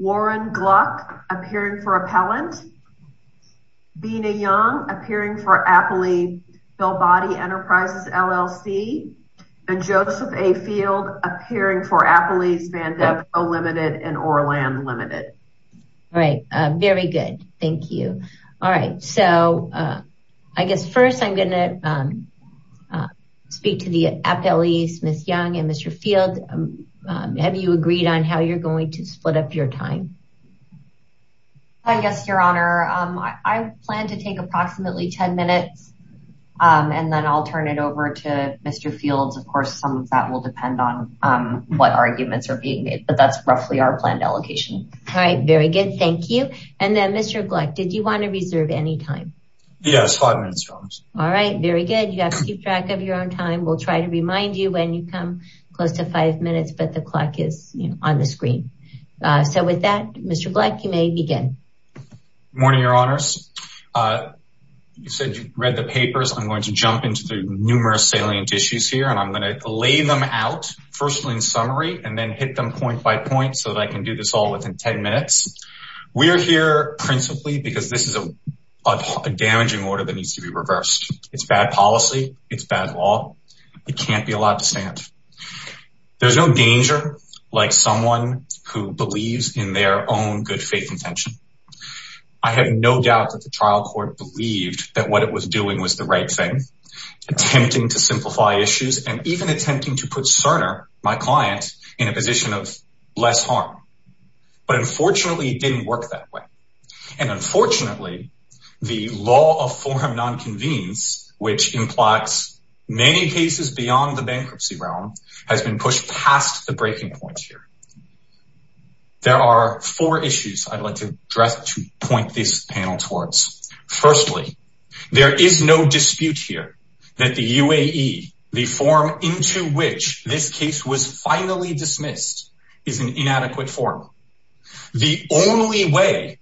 WARREN GLUCK APPEARING FOR APPELLANT BINA YOUNG APPEARING FOR APPELEY BUILD BODY ENTERPRISES LLC AND JOSEPH A. FIELD APPEARING FOR APPELEY'S VANDEVCO LIMITED AND ORLAND LIMITED. Right. Very good. Thank you. All right. So I guess first I'm going to speak to the appellees, Ms. Young and Mr. Field. Have you agreed on how you're going to split up your time? I guess, Your Honor, I plan to take approximately 10 minutes and then I'll turn it over to Mr. Fields. Of course, some of that will depend on what arguments are being made, that's roughly our planned allocation. All right. Very good. Thank you. And then, Mr. Gluck, did you want to reserve any time? Yes, five minutes, Your Honor. All right. Very good. You have to keep track of your own time. We'll try to remind you when you come close to five minutes, but the clock is on the screen. So with that, Mr. Gluck, you may begin. Morning, Your Honors. You said you read the papers. I'm going to jump into the numerous salient issues here and I'm going to lay them out, firstly in summary, and then hit them point by point so that I can do this all within 10 minutes. We're here principally because this is a damaging order that needs to be reversed. It's bad policy. It's bad law. It can't be allowed to stand. There's no danger like someone who believes in their own good faith intention. I have no doubt that the trial court believed that what it was doing was the right thing, attempting to simplify issues and even attempting to put Cerner, my client, in a position of less harm. But unfortunately, it didn't work that way. And unfortunately, the law of forum nonconvenience, which implies many cases beyond the bankruptcy realm, has been pushed past the breaking point here. There are four issues I'd like to address to point this panel towards. Firstly, there is no dispute here that the UAE, the form into which this case was finally dismissed, is an inadequate form. The only way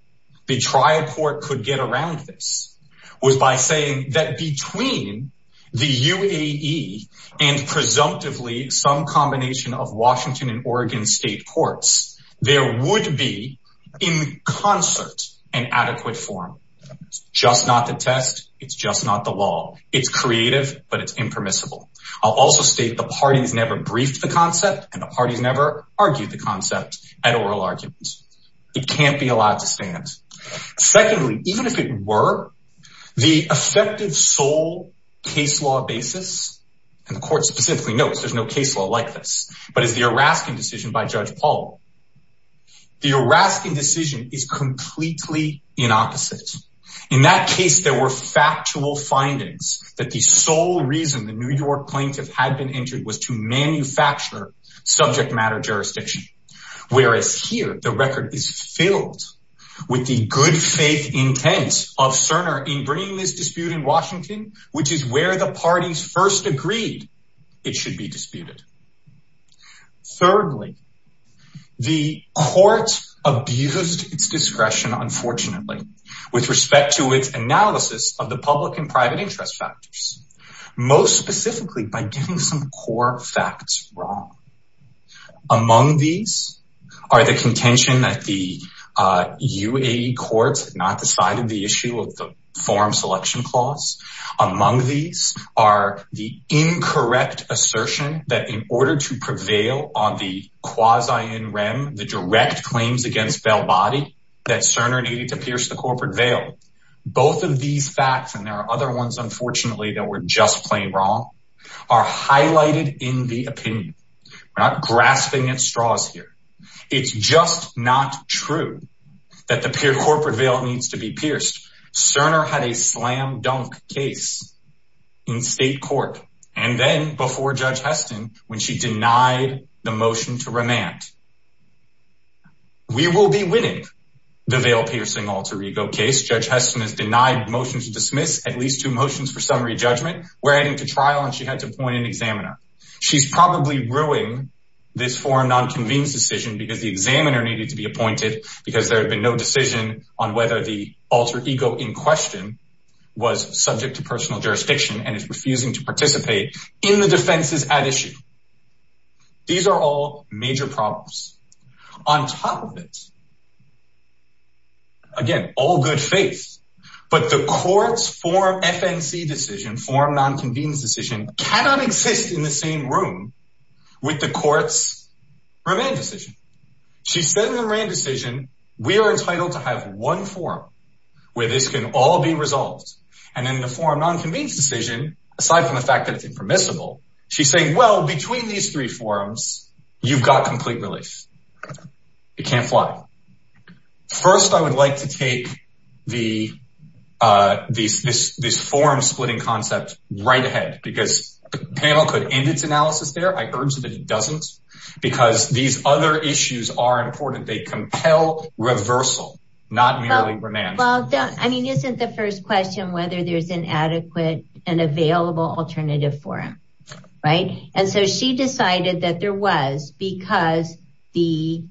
the trial court could get around this was by saying that between the UAE and presumptively some combination of Washington and Oregon state courts, there would be in concert an adequate forum. It's just not the test. It's just not the law. It's creative, but it's impermissible. I'll also state the parties never briefed the concept and the parties never argued the concept at oral arguments. It can't be allowed to stand. Secondly, even if it were, the effective sole case law basis, and the court specifically notes there's no case law like this, but is the decision is completely in opposite. In that case, there were factual findings that the sole reason the New York plaintiff had been entered was to manufacture subject matter jurisdiction. Whereas here, the record is filled with the good faith intent of Cerner in bringing this dispute in Washington, which is where the parties first agreed it should be disputed. Thirdly, the court abused its discretion, unfortunately, with respect to its analysis of the public and private interest factors, most specifically by getting some core facts wrong. Among these are the contention that the UAE courts not decided the issue of the forum selection clause. Among these are the incorrect assertion that in order to prevail on the quasi-in rem, the direct claims against Bell Body, that Cerner needed to pierce the corporate veil. Both of these facts, and there are other ones, unfortunately, that were just plain wrong, are highlighted in the opinion. We're not grasping at straws here. It's just not true that the corporate veil needs to be pierced. Cerner had a slam dunk case in state court, and then before Judge Heston, when she denied the motion to remand. We will be winning the veil piercing alter ego case. Judge Heston has denied motion to dismiss at least two motions for summary judgment. We're heading to trial and she had to appoint an examiner. She's probably ruling this forum non-convened decision because the examiner needed to be appointed because there had been no decision on whether the alter ego in question was subject to personal jurisdiction and is refusing to participate in the defenses at issue. These are all major problems. On top of it, again, all good faith, but the court's forum FNC decision, forum non-convened decision, cannot exist in the same room with the court's remand decision. She said in the remand decision, we are entitled to have one forum where this can all be resolved. In the forum non-convened decision, aside from the fact that it's impermissible, she's saying, well, between these three forums, you've got complete relief. It can't fly. First, I would like to take this forum splitting concept right ahead because the panel could end analysis there. I urge that it doesn't because these other issues are important. They compel reversal, not merely remand. Well, I mean, isn't the first question whether there's an adequate and available alternative for him, right? And so she decided that there was because the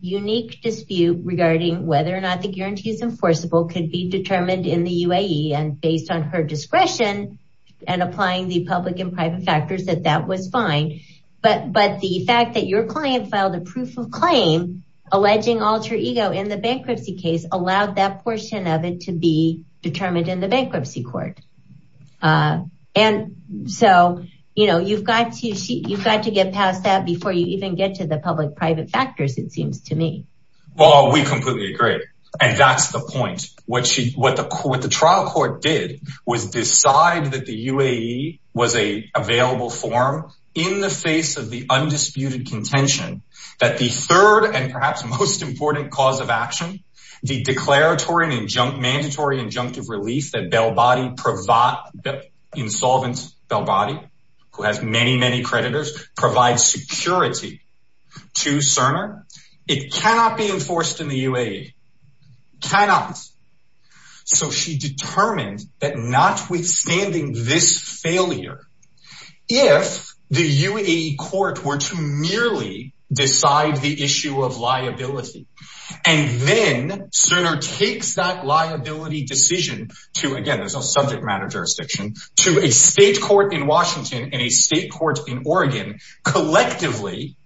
unique dispute regarding whether or not the guarantee is enforceable could be determined in the UAE and based on her discretion and applying the public and private factors that that was fine. But the fact that your client filed a proof of claim alleging alter ego in the bankruptcy case allowed that portion of it to be determined in the bankruptcy court. And so, you've got to get past that before you even get to the public private factors, it seems to me. Well, we completely agree. And that's the point. What she what the trial court did was decide that the UAE was a available form in the face of the undisputed contention that the third and perhaps most important cause of action, the declaratory and junk mandatory injunctive relief that Bell body provide that insolvent Bell body, who has many, many creditors provide security to Cerner, it cannot be enforced in the UAE. Cannot. So she determined that not withstanding this failure, if the UAE court were to merely decide the issue of liability, and then Cerner takes that liability decision to again, there's no subject matter jurisdiction to a state court in Washington and a state court in Oregon, collectively,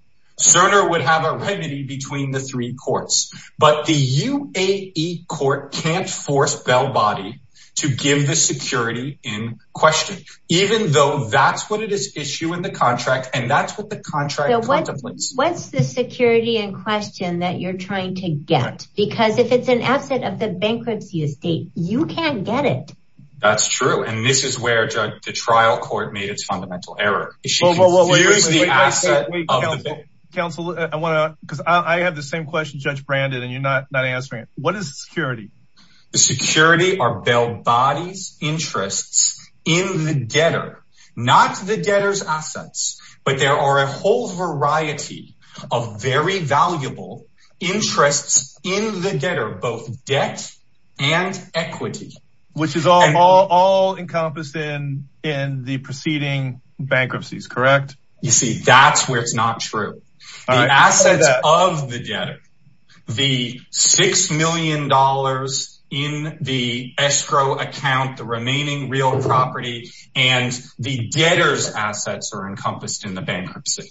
Cerner would have a remedy between the three courts, but the UAE court can't force Bell body to give the security in question, even though that's what it is issue in the contract. And that's what the contract what's the security in question that you're trying to get? Because if it's an asset of the bankruptcy estate, you can't get it. That's true. And this is where the trial court made its fundamental error. Counsel, I want to because I have the same question, Judge Brandon, and you're not not answering it. What is security? Security are Bell bodies interests in the debtor, not the debtors assets. But there are a whole variety of very valuable interests in the debtor, both debt and equity, which is all all all encompassed in in the preceding bankruptcies, correct? You see, that's where it's not true. Assets of the debtor, the $6 million in the escrow account, the remaining real property, and the debtors assets are encompassed in the bankruptcy.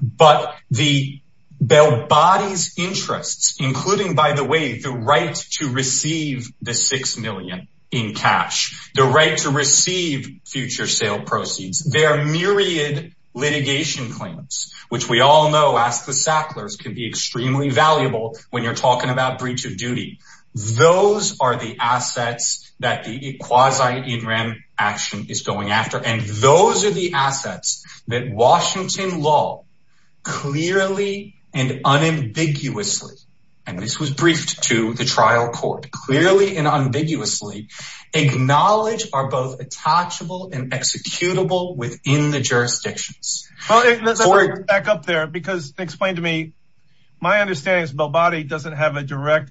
But the Bell bodies interests, including, by the way, the right to receive the $6 million in cash, the right to receive future sale proceeds, their myriad litigation claims, which we all know, as the Sacklers can be extremely valuable when you're talking about breach of duty. Those are the assets that the quasi in rem action is going after. And those are the assets that Washington law clearly and unambiguously. And this was briefed to the trial court clearly and ambiguously acknowledge are both attachable and executable within the jurisdictions. Back up there, because explain to me, my understanding is Bell body doesn't have a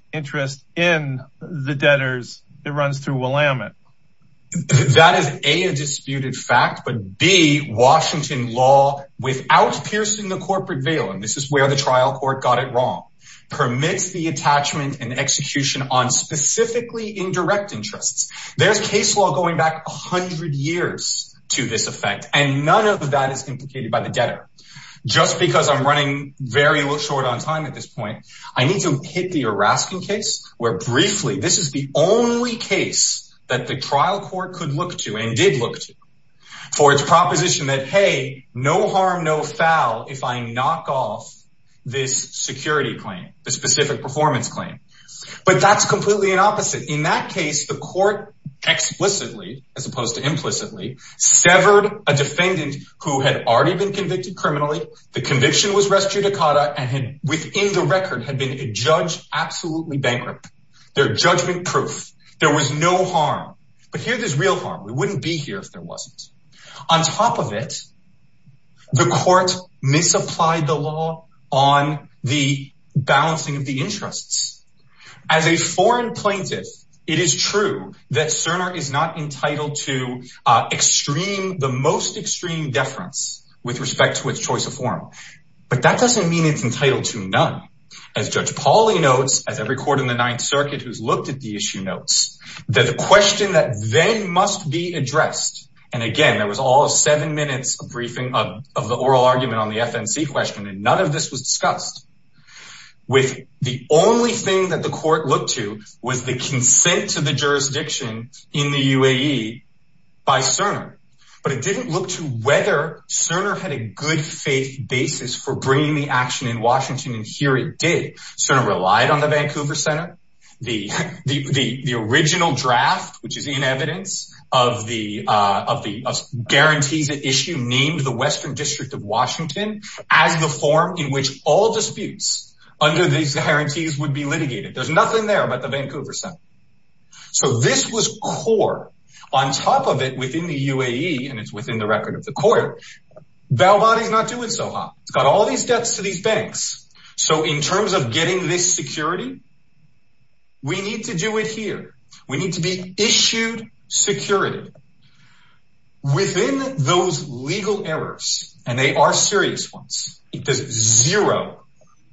it runs through Willamette. That is a disputed fact, but be Washington law without piercing the corporate veil. And this is where the trial court got it wrong, permits the attachment and execution on specifically indirect interests. There's case law going back 100 years to this effect. And none of that is implicated by the debtor. Just because I'm running very short on time at this point, I need to hit the harassment case where briefly this is the only case that the trial court could look to and did look to for its proposition that, hey, no harm, no foul. If I knock off this security claim, the specific performance claim, but that's completely an opposite. In that case, the court explicitly as opposed to implicitly severed a defendant who had already been convicted criminally, the conviction was restricted to Cata and had within the record had been a judge, absolutely bankrupt. They're judgment proof. There was no harm, but here there's real harm. We wouldn't be here if there wasn't. On top of it, the court misapplied the law on the balancing of the interests. As a foreign plaintiff, it is true that Cerner is not entitled to the most extreme deference with respect to its choice of form, but that doesn't mean it's entitled to none. As Judge Pauly notes, as every court in the Ninth Circuit who's looked at the issue notes, that the question that then must be addressed, and again, there was all seven minutes of the oral argument on the FNC question, and none of this was in the UAE by Cerner, but it didn't look to whether Cerner had a good faith basis for bringing the action in Washington, and here it did. Cerner relied on the Vancouver Center. The original draft, which is in evidence of the guarantees at issue named the Western District of Washington as the form in which all disputes under these guarantees would be litigated. There's nothing there about the Vancouver Center. So this was core. On top of it, within the UAE, and it's within the record of the court, Valvadi's not doing so hot. It's got all these debts to these banks. So in terms of getting this security, we need to do it here. We need to be issued security. Within those legal errors, and they are serious ones, because zero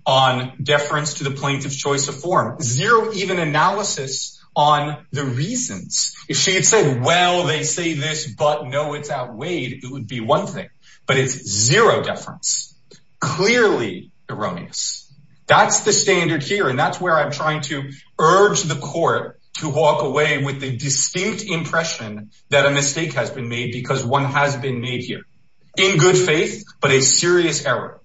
on deference to the plaintiff's form, zero even analysis on the reasons. If she had said, well, they say this, but no, it's outweighed, it would be one thing, but it's zero deference, clearly erroneous. That's the standard here, and that's where I'm trying to urge the court to walk away with the distinct impression that a mistake has been made because one has been made here in good faith, but a serious error.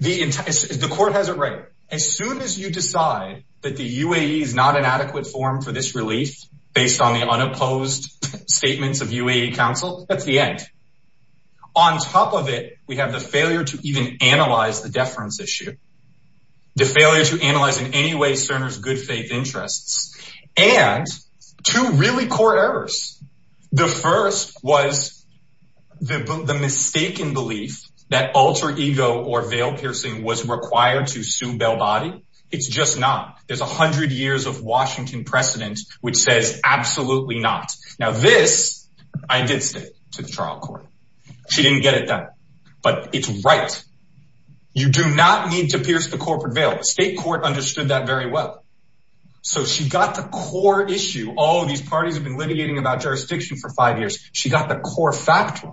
The court has it right. As soon as you decide that the UAE is not an adequate form for this relief based on the unopposed statements of UAE counsel, that's the end. On top of it, we have the failure to even analyze the deference issue, the failure to analyze in any way Cerner's good faith interests, and two really core errors. The first was the mistaken belief that alter ego or veil piercing was required to sue Bellbody. It's just not. There's a hundred years of Washington precedent, which says absolutely not. Now this, I did say to the trial court. She didn't get it done, but it's right. You do not need to pierce the corporate veil. The state court understood that very well. So she got the core issue. All of these parties have been litigating about jurisdiction for five years. She got the core factor.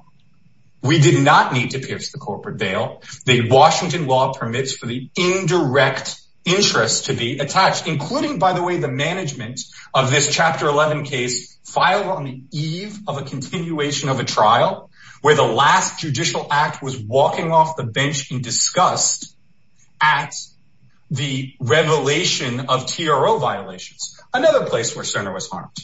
We did not need to pierce the corporate veil. The Washington law permits for the indirect interest to be attached, including, by the way, the management of this chapter 11 case filed on the eve of a continuation of a trial where the last judicial act was walking off the bench in disgust at the revelation of TRO violations, another place where Cerner was harmed.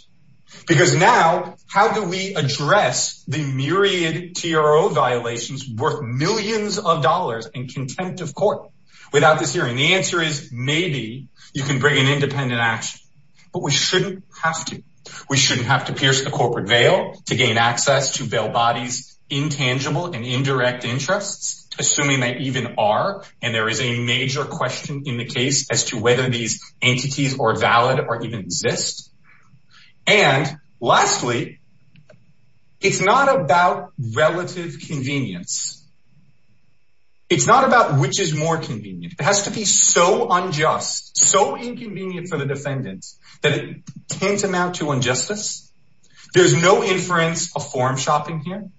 Because now, how do we address the myriad TRO violations worth millions of dollars and contempt of court without this hearing? The answer is maybe you can bring an independent action, but we shouldn't have to. We shouldn't have to pierce the corporate veil to gain access to assuming they even are. And there is a major question in the case as to whether these entities are valid or even exist. And lastly, it's not about relative convenience. It's not about which is more convenient. It has to be so unjust, so inconvenient for the defendants that it can amount to injustice. There's no inference of form shopping here.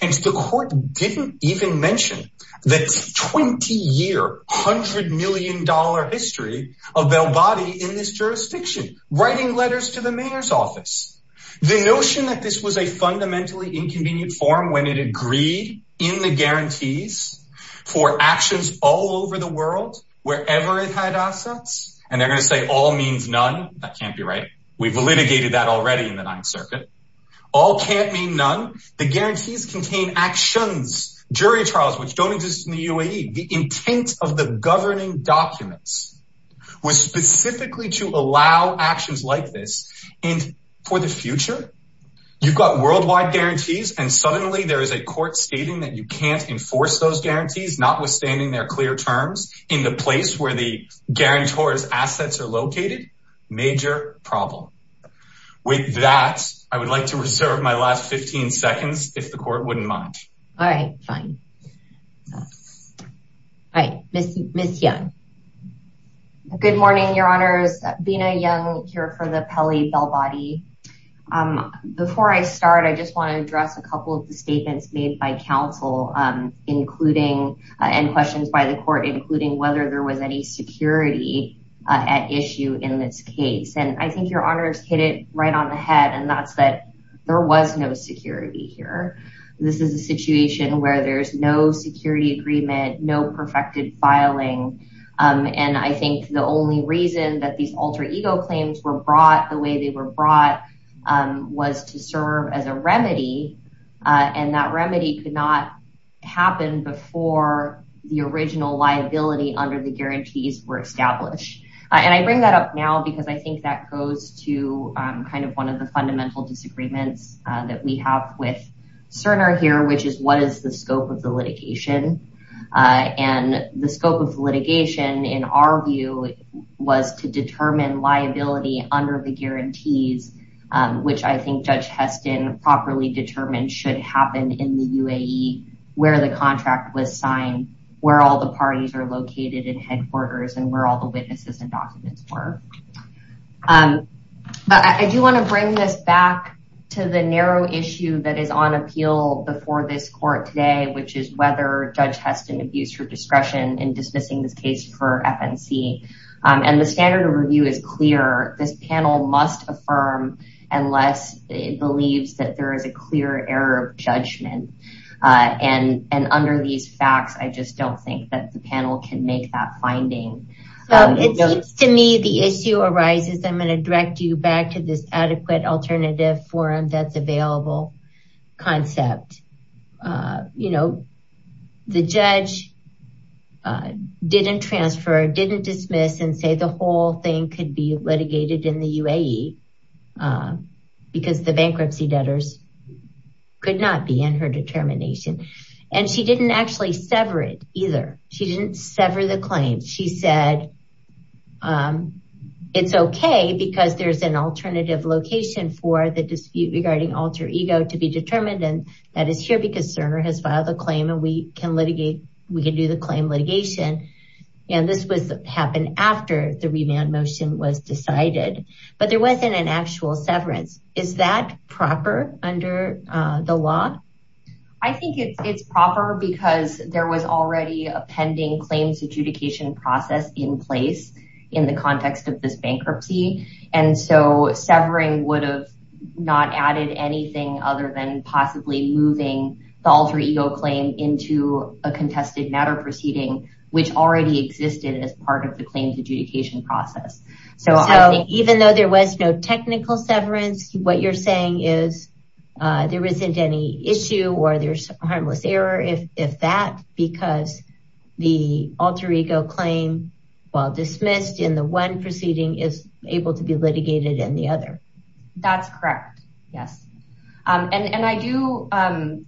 And the court didn't even mention the 20-year, $100 million history of Belbody in this jurisdiction, writing letters to the mayor's office. The notion that this was a fundamentally inconvenient form when it agreed in the guarantees for actions all over the world, wherever it had assets, and they're going to say all means none. That can't be right. We've litigated that already in 9th circuit. All can't mean none. The guarantees contain actions, jury trials, which don't exist in the UAE. The intent of the governing documents was specifically to allow actions like this. And for the future, you've got worldwide guarantees. And suddenly there is a court stating that you can't enforce those guarantees, notwithstanding they're clear terms in the place where the guarantor's assets are located. Major problem. With that, I would like to reserve my last 15 seconds, if the court wouldn't mind. All right, fine. All right, Ms. Young. Good morning, your honors. Bina Young here for the Pele-Belbody. Before I start, I just want to address a couple of the statements made by counsel and questions by the court, including whether there was any security at issue in this case. And I think your honors hit it right on the head, and that's that there was no security here. This is a situation where there's no security agreement, no perfected filing. And I think the only reason that these alter ego claims were brought the way they were brought was to serve as a remedy. And that remedy could not happen before the original liability under the guarantees were established. And I bring that up now because I think that goes to kind of one of the fundamental disagreements that we have with Cerner here, which is what is the scope of the litigation? And the scope of litigation, in our view, was to determine liability under the guarantees, which I think Judge Heston properly determined should happen in the UAE, where the contract was signed, where all the parties are located in headquarters, and where all the witnesses and documents were. I do want to bring this back to the narrow issue that is on appeal before this court today, which is whether Judge Heston abused her discretion in dismissing this case for FNC. And the standard of review is clear. This panel must affirm unless it believes that there is a clear error of judgment. And under these facts, I just don't think that the panel can make that finding. It seems to me the issue arises, I'm going to direct you back to this adequate alternative forum that's available concept. You know, the judge didn't transfer, didn't dismiss and say the whole thing could be litigated in the UAE. Because the bankruptcy debtors could not be in her determination. And she didn't actually sever it either. She didn't sever the claim. She said, it's okay, because there's an alternative location for the dispute regarding alter ego to be determined. And that is here because Cerner has filed a claim and we can litigate, we can do the claim litigation. And this was happened after the remand motion was decided. But there wasn't an actual severance. Is that proper under the law? I think it's proper because there was already a pending claims adjudication process in place in the context of this bankruptcy. And so severing would have not added anything other than possibly moving the alter ego claim into a contested matter proceeding, which already existed as part of the claims adjudication process. So even though there was no technical severance, what you're saying is, there isn't any issue or there's harmless error if that because the alter ego claim, while dismissed in the one proceeding is able to be litigated in the other. That's correct. Yes. And I do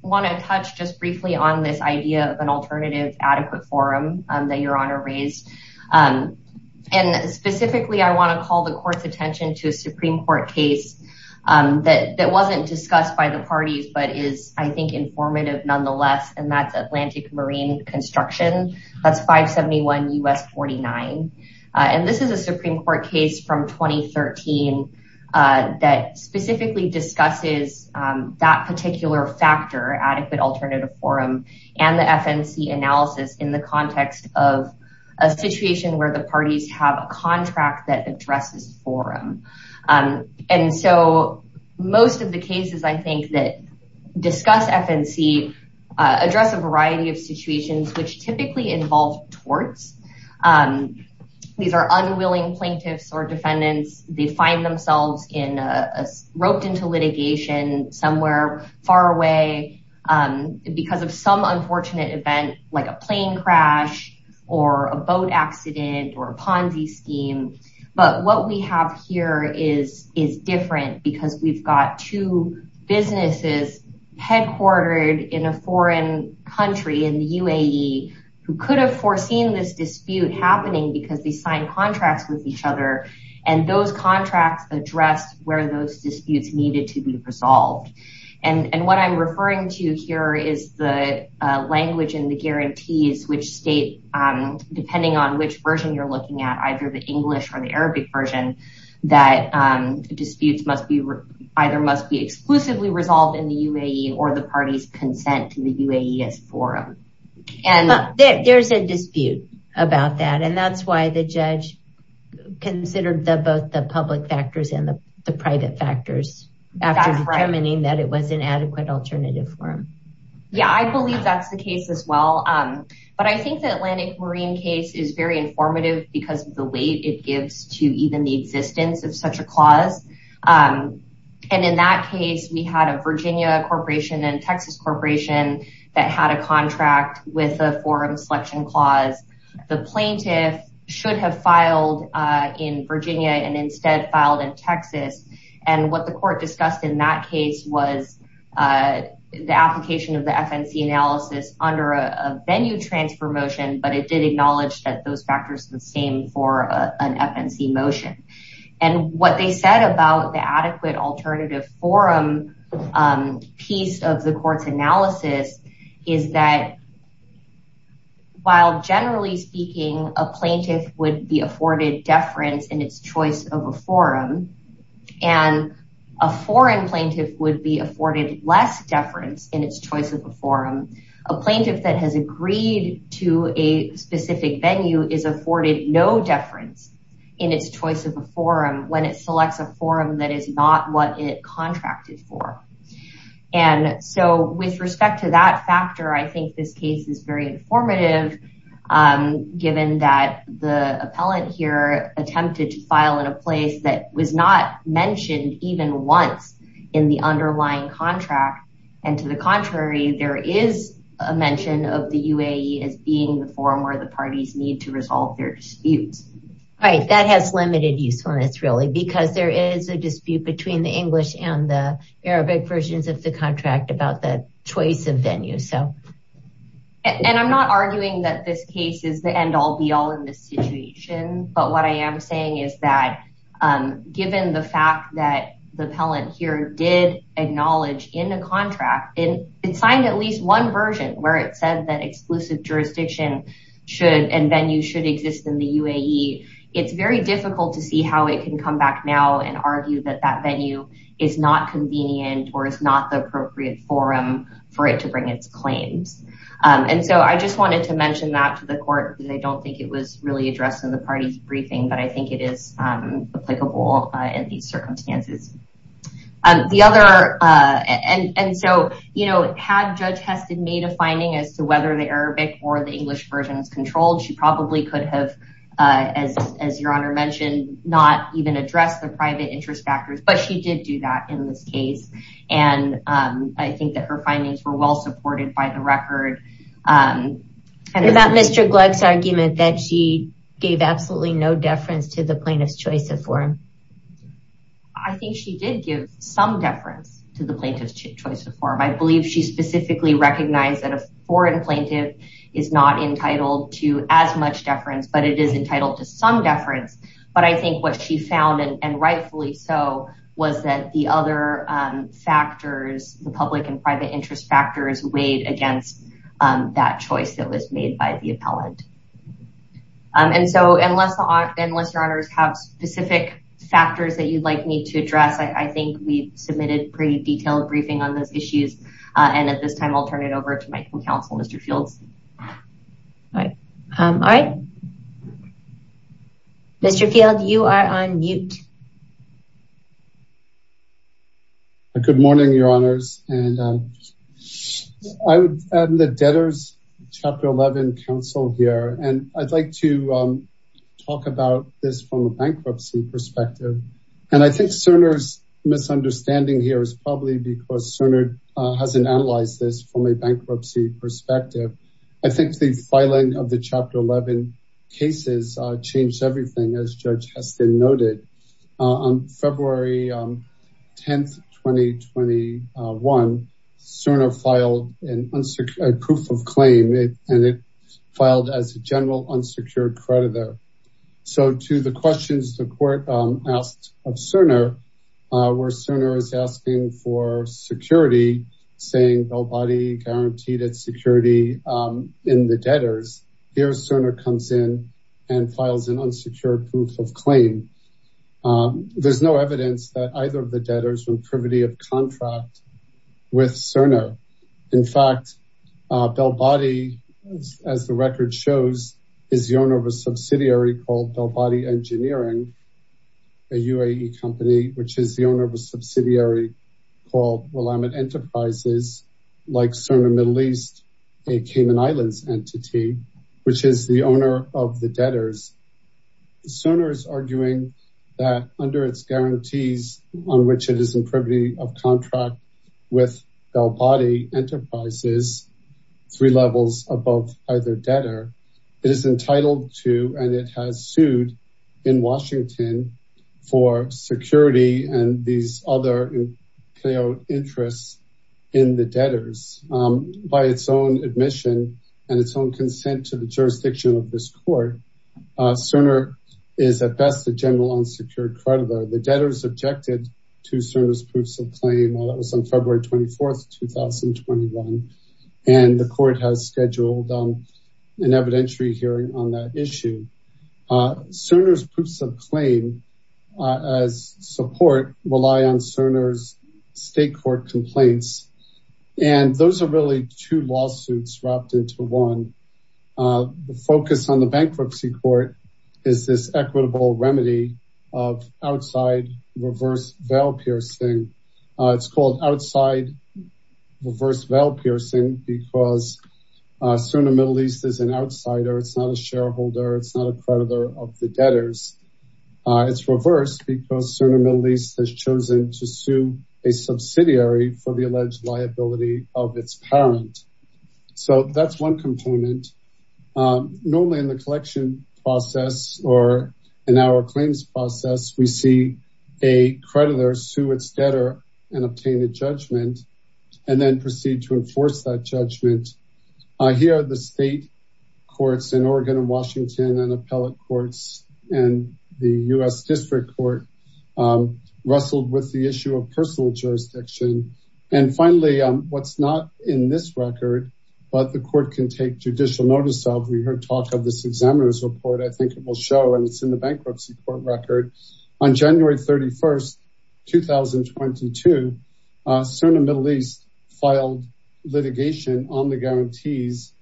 want to touch just briefly on this idea of an alternative adequate forum that your honor raised. And specifically, I want to call the court's attention to a Supreme Court case that wasn't discussed by the parties, but is I think informative nonetheless. And that's Atlantic Marine Construction. That's 571 U.S. 49. And this is a Supreme Court case from 2013 that specifically discusses that particular factor, adequate alternative forum and the FNC analysis in the context of a situation where the parties have a contract that addresses forum. And so most of the cases, I think that discuss FNC address a variety of situations, which typically involved torts. These are unwilling plaintiffs or defendants. They find themselves in a roped into litigation somewhere far away because of some unfortunate event, like a plane crash or a boat accident or a Ponzi scheme. But what we have here is different because we've got two businesses headquartered in a foreign country in the UAE who could have seen this dispute happening because they signed contracts with each other and those contracts addressed where those disputes needed to be resolved. And what I'm referring to here is the language and the guarantees, which state, depending on which version you're looking at, either the English or the Arabic version, that disputes must be either must be exclusively resolved in the UAE or the parties consent to the UAE as forum. There's a dispute about that, and that's why the judge considered the both the public factors and the private factors after determining that it was an adequate alternative forum. Yeah, I believe that's the case as well. But I think the Atlantic Marine case is very informative because of the weight it had a Virginia corporation and Texas corporation that had a contract with a forum selection clause. The plaintiff should have filed in Virginia and instead filed in Texas. And what the court discussed in that case was the application of the FNC analysis under a venue transfer motion, but it did acknowledge that those factors the same for an FNC motion. And what they said about the adequate alternative forum piece of the court's analysis is that while generally speaking, a plaintiff would be afforded deference in its choice of a forum and a foreign plaintiff would be afforded less deference in its choice of a forum, a plaintiff that has agreed to a specific is not what it contracted for. And so, with respect to that factor, I think this case is very informative given that the appellant here attempted to file in a place that was not mentioned even once in the underlying contract. And to the contrary, there is a mention of the UAE as being the forum where the parties need to resolve their disputes. Right, that has limited usefulness really because there is a dispute between the English and the Arabic versions of the contract about the choice of venue. And I'm not arguing that this case is the end-all be-all in this situation, but what I am saying is that given the fact that the appellant here did acknowledge in a contract and it signed at least one version where it said that exclusive jurisdiction should and venue should exist in the UAE, it's very difficult to see how it can come back now and argue that that venue is not convenient or is not the appropriate forum for it to bring its claims. And so, I just wanted to mention that to the court because I don't think it was really addressed in the party's briefing, but I think it is applicable in these circumstances. And so, you know, had Judge Heston made a finding as to whether the Arabic or the English version was controlled, she probably could have, as your honor mentioned, not even addressed the private interest factors, but she did do that in this case. And I think that her findings were well supported by the record. About Mr. Gluck's argument that she gave absolutely no deference to the plaintiff's choice of forum. I think she did give some deference to the plaintiff's choice of forum. I believe she specifically recognized that a foreign plaintiff is not entitled to as much deference, but it is entitled to some deference. But I think what she found, and rightfully so, was that the other factors, the public and private interest factors, weighed against that choice that was made by the factors that you'd like me to address. I think we've submitted a pretty detailed briefing on those issues. And at this time, I'll turn it over to my counsel, Mr. Fields. All right. Mr. Field, you are on mute. Good morning, your honors. And I'm the debtors chapter 11 counsel here. And I'd like to talk about this from a bankruptcy perspective. And I think Cerner's misunderstanding here is probably because Cerner hasn't analyzed this from a bankruptcy perspective. I think the filing of the chapter 11 cases changed everything, as Judge Heston noted. On February 10, 2021, Cerner filed a proof of claim, and it filed as a general unsecured creditor. So to the questions the court asked of Cerner, where Cerner is asking for security, saying nobody guaranteed its security in the debtors, here Cerner comes in and files an unsecured proof of claim. There's no evidence that either of the debtors are in privity of contract with Cerner. In fact, Bellbody, as the record shows, is the owner of a subsidiary called Bellbody Engineering, a UAE company, which is the owner of a subsidiary called Willamette Enterprises, like Cerner Middle East, a Cayman Islands entity, which is the owner of the debtors. Cerner is arguing that under its guarantees on which it is in privity of contract with Bellbody Enterprises, three levels above either debtor, it is entitled to, and it has sued in Washington for security and these other interests in the debtors by its own admission and its own assertion. Cerner is at best a general unsecured creditor. The debtors objected to Cerner's proofs of claim on February 24th, 2021, and the court has scheduled an evidentiary hearing on that issue. Cerner's proofs of claim as support rely on Cerner's state court complaints, and those are really two lawsuits wrapped into one. The focus on the bankruptcy court is this equitable remedy of outside reverse veil piercing. It's called outside reverse veil piercing because Cerner Middle East is an outsider. It's not a shareholder. It's not a creditor of the debtors. It's reversed because Cerner Middle East has chosen to sue a subsidiary for the alleged liability of its parent. So that's one component. Normally in the collection process or in our claims process, we see a creditor sue its debtor and obtain a judgment and then proceed to enforce that judgment. Here, the state courts in Oregon and Washington and appellate courts and the U.S. District Court wrestled with the issue of personal jurisdiction. And finally, what's not in this but the court can take judicial notice of. We heard talk of this examiner's report. I think it will show and it's in the bankruptcy court record. On January 31st, 2022, Cerner Middle East filed litigation on the guarantees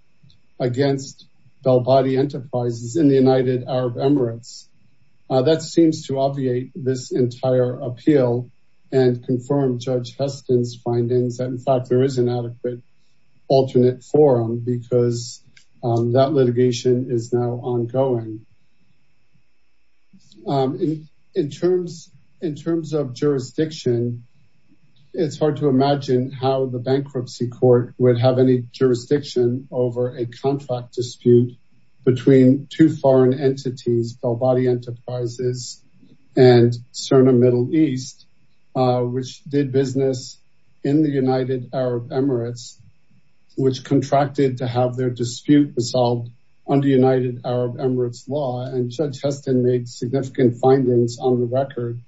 against Bellbody Enterprises in the United Arab Emirates. That seems to obviate this entire appeal and confirm Judge Heston's findings that in fact, there is an adequate alternate forum because that litigation is now ongoing. In terms of jurisdiction, it's hard to imagine how the bankruptcy court would have any jurisdiction over a contract dispute between two foreign entities, Bellbody Enterprises and Cerner Middle East, which did business in the United Arab Emirates, which contracted to have their dispute resolved under United Arab Emirates law. And Judge Heston made significant findings on the record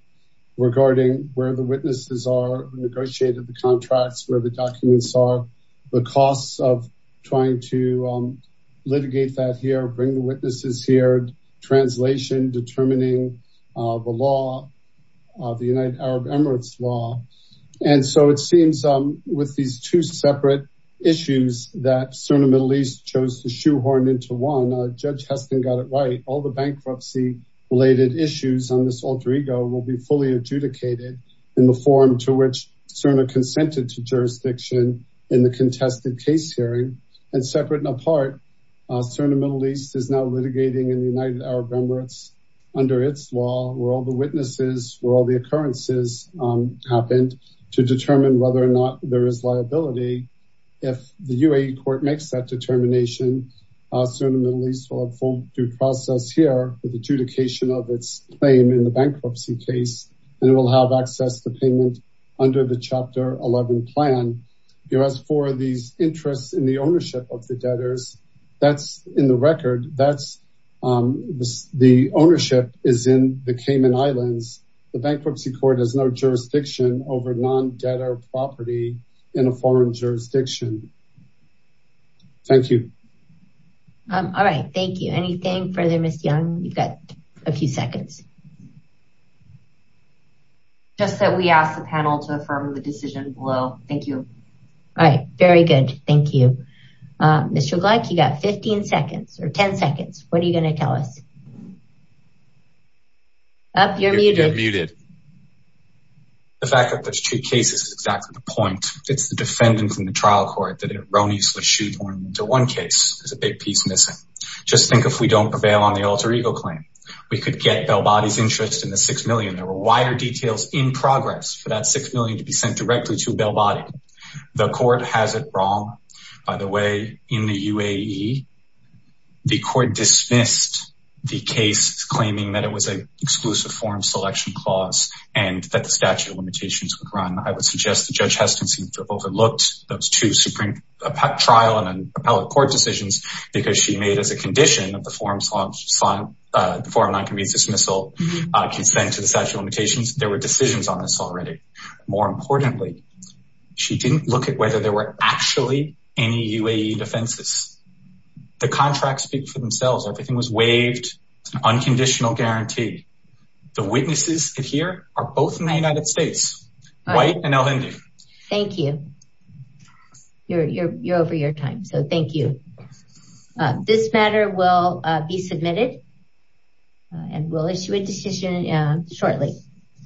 regarding where the witnesses are, negotiated the contracts, where the documents are, the costs of trying to litigate that here, bring the witnesses here, translation, determining the United Arab Emirates law. And so it seems with these two separate issues that Cerner Middle East chose to shoehorn into one, Judge Heston got it right. All the bankruptcy related issues on this alter ego will be fully adjudicated in the forum to which Cerner consented to jurisdiction in the contested case hearing. And separate and apart, Cerner Middle Arab Emirates under its law, where all the witnesses, where all the occurrences happened to determine whether or not there is liability. If the UAE court makes that determination, Cerner Middle East will have full due process here with adjudication of its claim in the bankruptcy case, and it will have access to payment under the chapter 11 plan. As for these interests in ownership of the debtors, that's in the record, that's the ownership is in the Cayman Islands. The bankruptcy court has no jurisdiction over non-debtor property in a foreign jurisdiction. Thank you. All right. Thank you. Anything further, Ms. Young? You've got a few seconds. Just that we asked the panel to affirm the decision below. Thank you. All right. Very good. Thank you. Mr. Gleick, you got 15 seconds or 10 seconds. What are you going to tell us? You're muted. The fact that there's two cases is exactly the point. It's the defendants in the trial court that erroneously shoot one into one case. There's a big piece missing. Just think if we don't prevail on the alter ego claim, we could get Bellbody's interest in the six million. There were wider details in progress for that six million to be sent directly to Bellbody. The court has it wrong. By the way, in the UAE, the court dismissed the case claiming that it was an exclusive form selection clause and that the statute of limitations would run. I would suggest that Judge Heston seems to have overlooked those two supreme trial and appellate court decisions because she made as a condition of the forum non-convenience dismissal consent to statute of limitations. There were decisions on this already. More importantly, she didn't look at whether there were actually any UAE defenses. The contracts speak for themselves. Everything was waived. It's an unconditional guarantee. The witnesses here are both in the United States, White and El-Hindi. Thank you. You're over your time. So thank you. This matter will be submitted and we'll issue a decision shortly.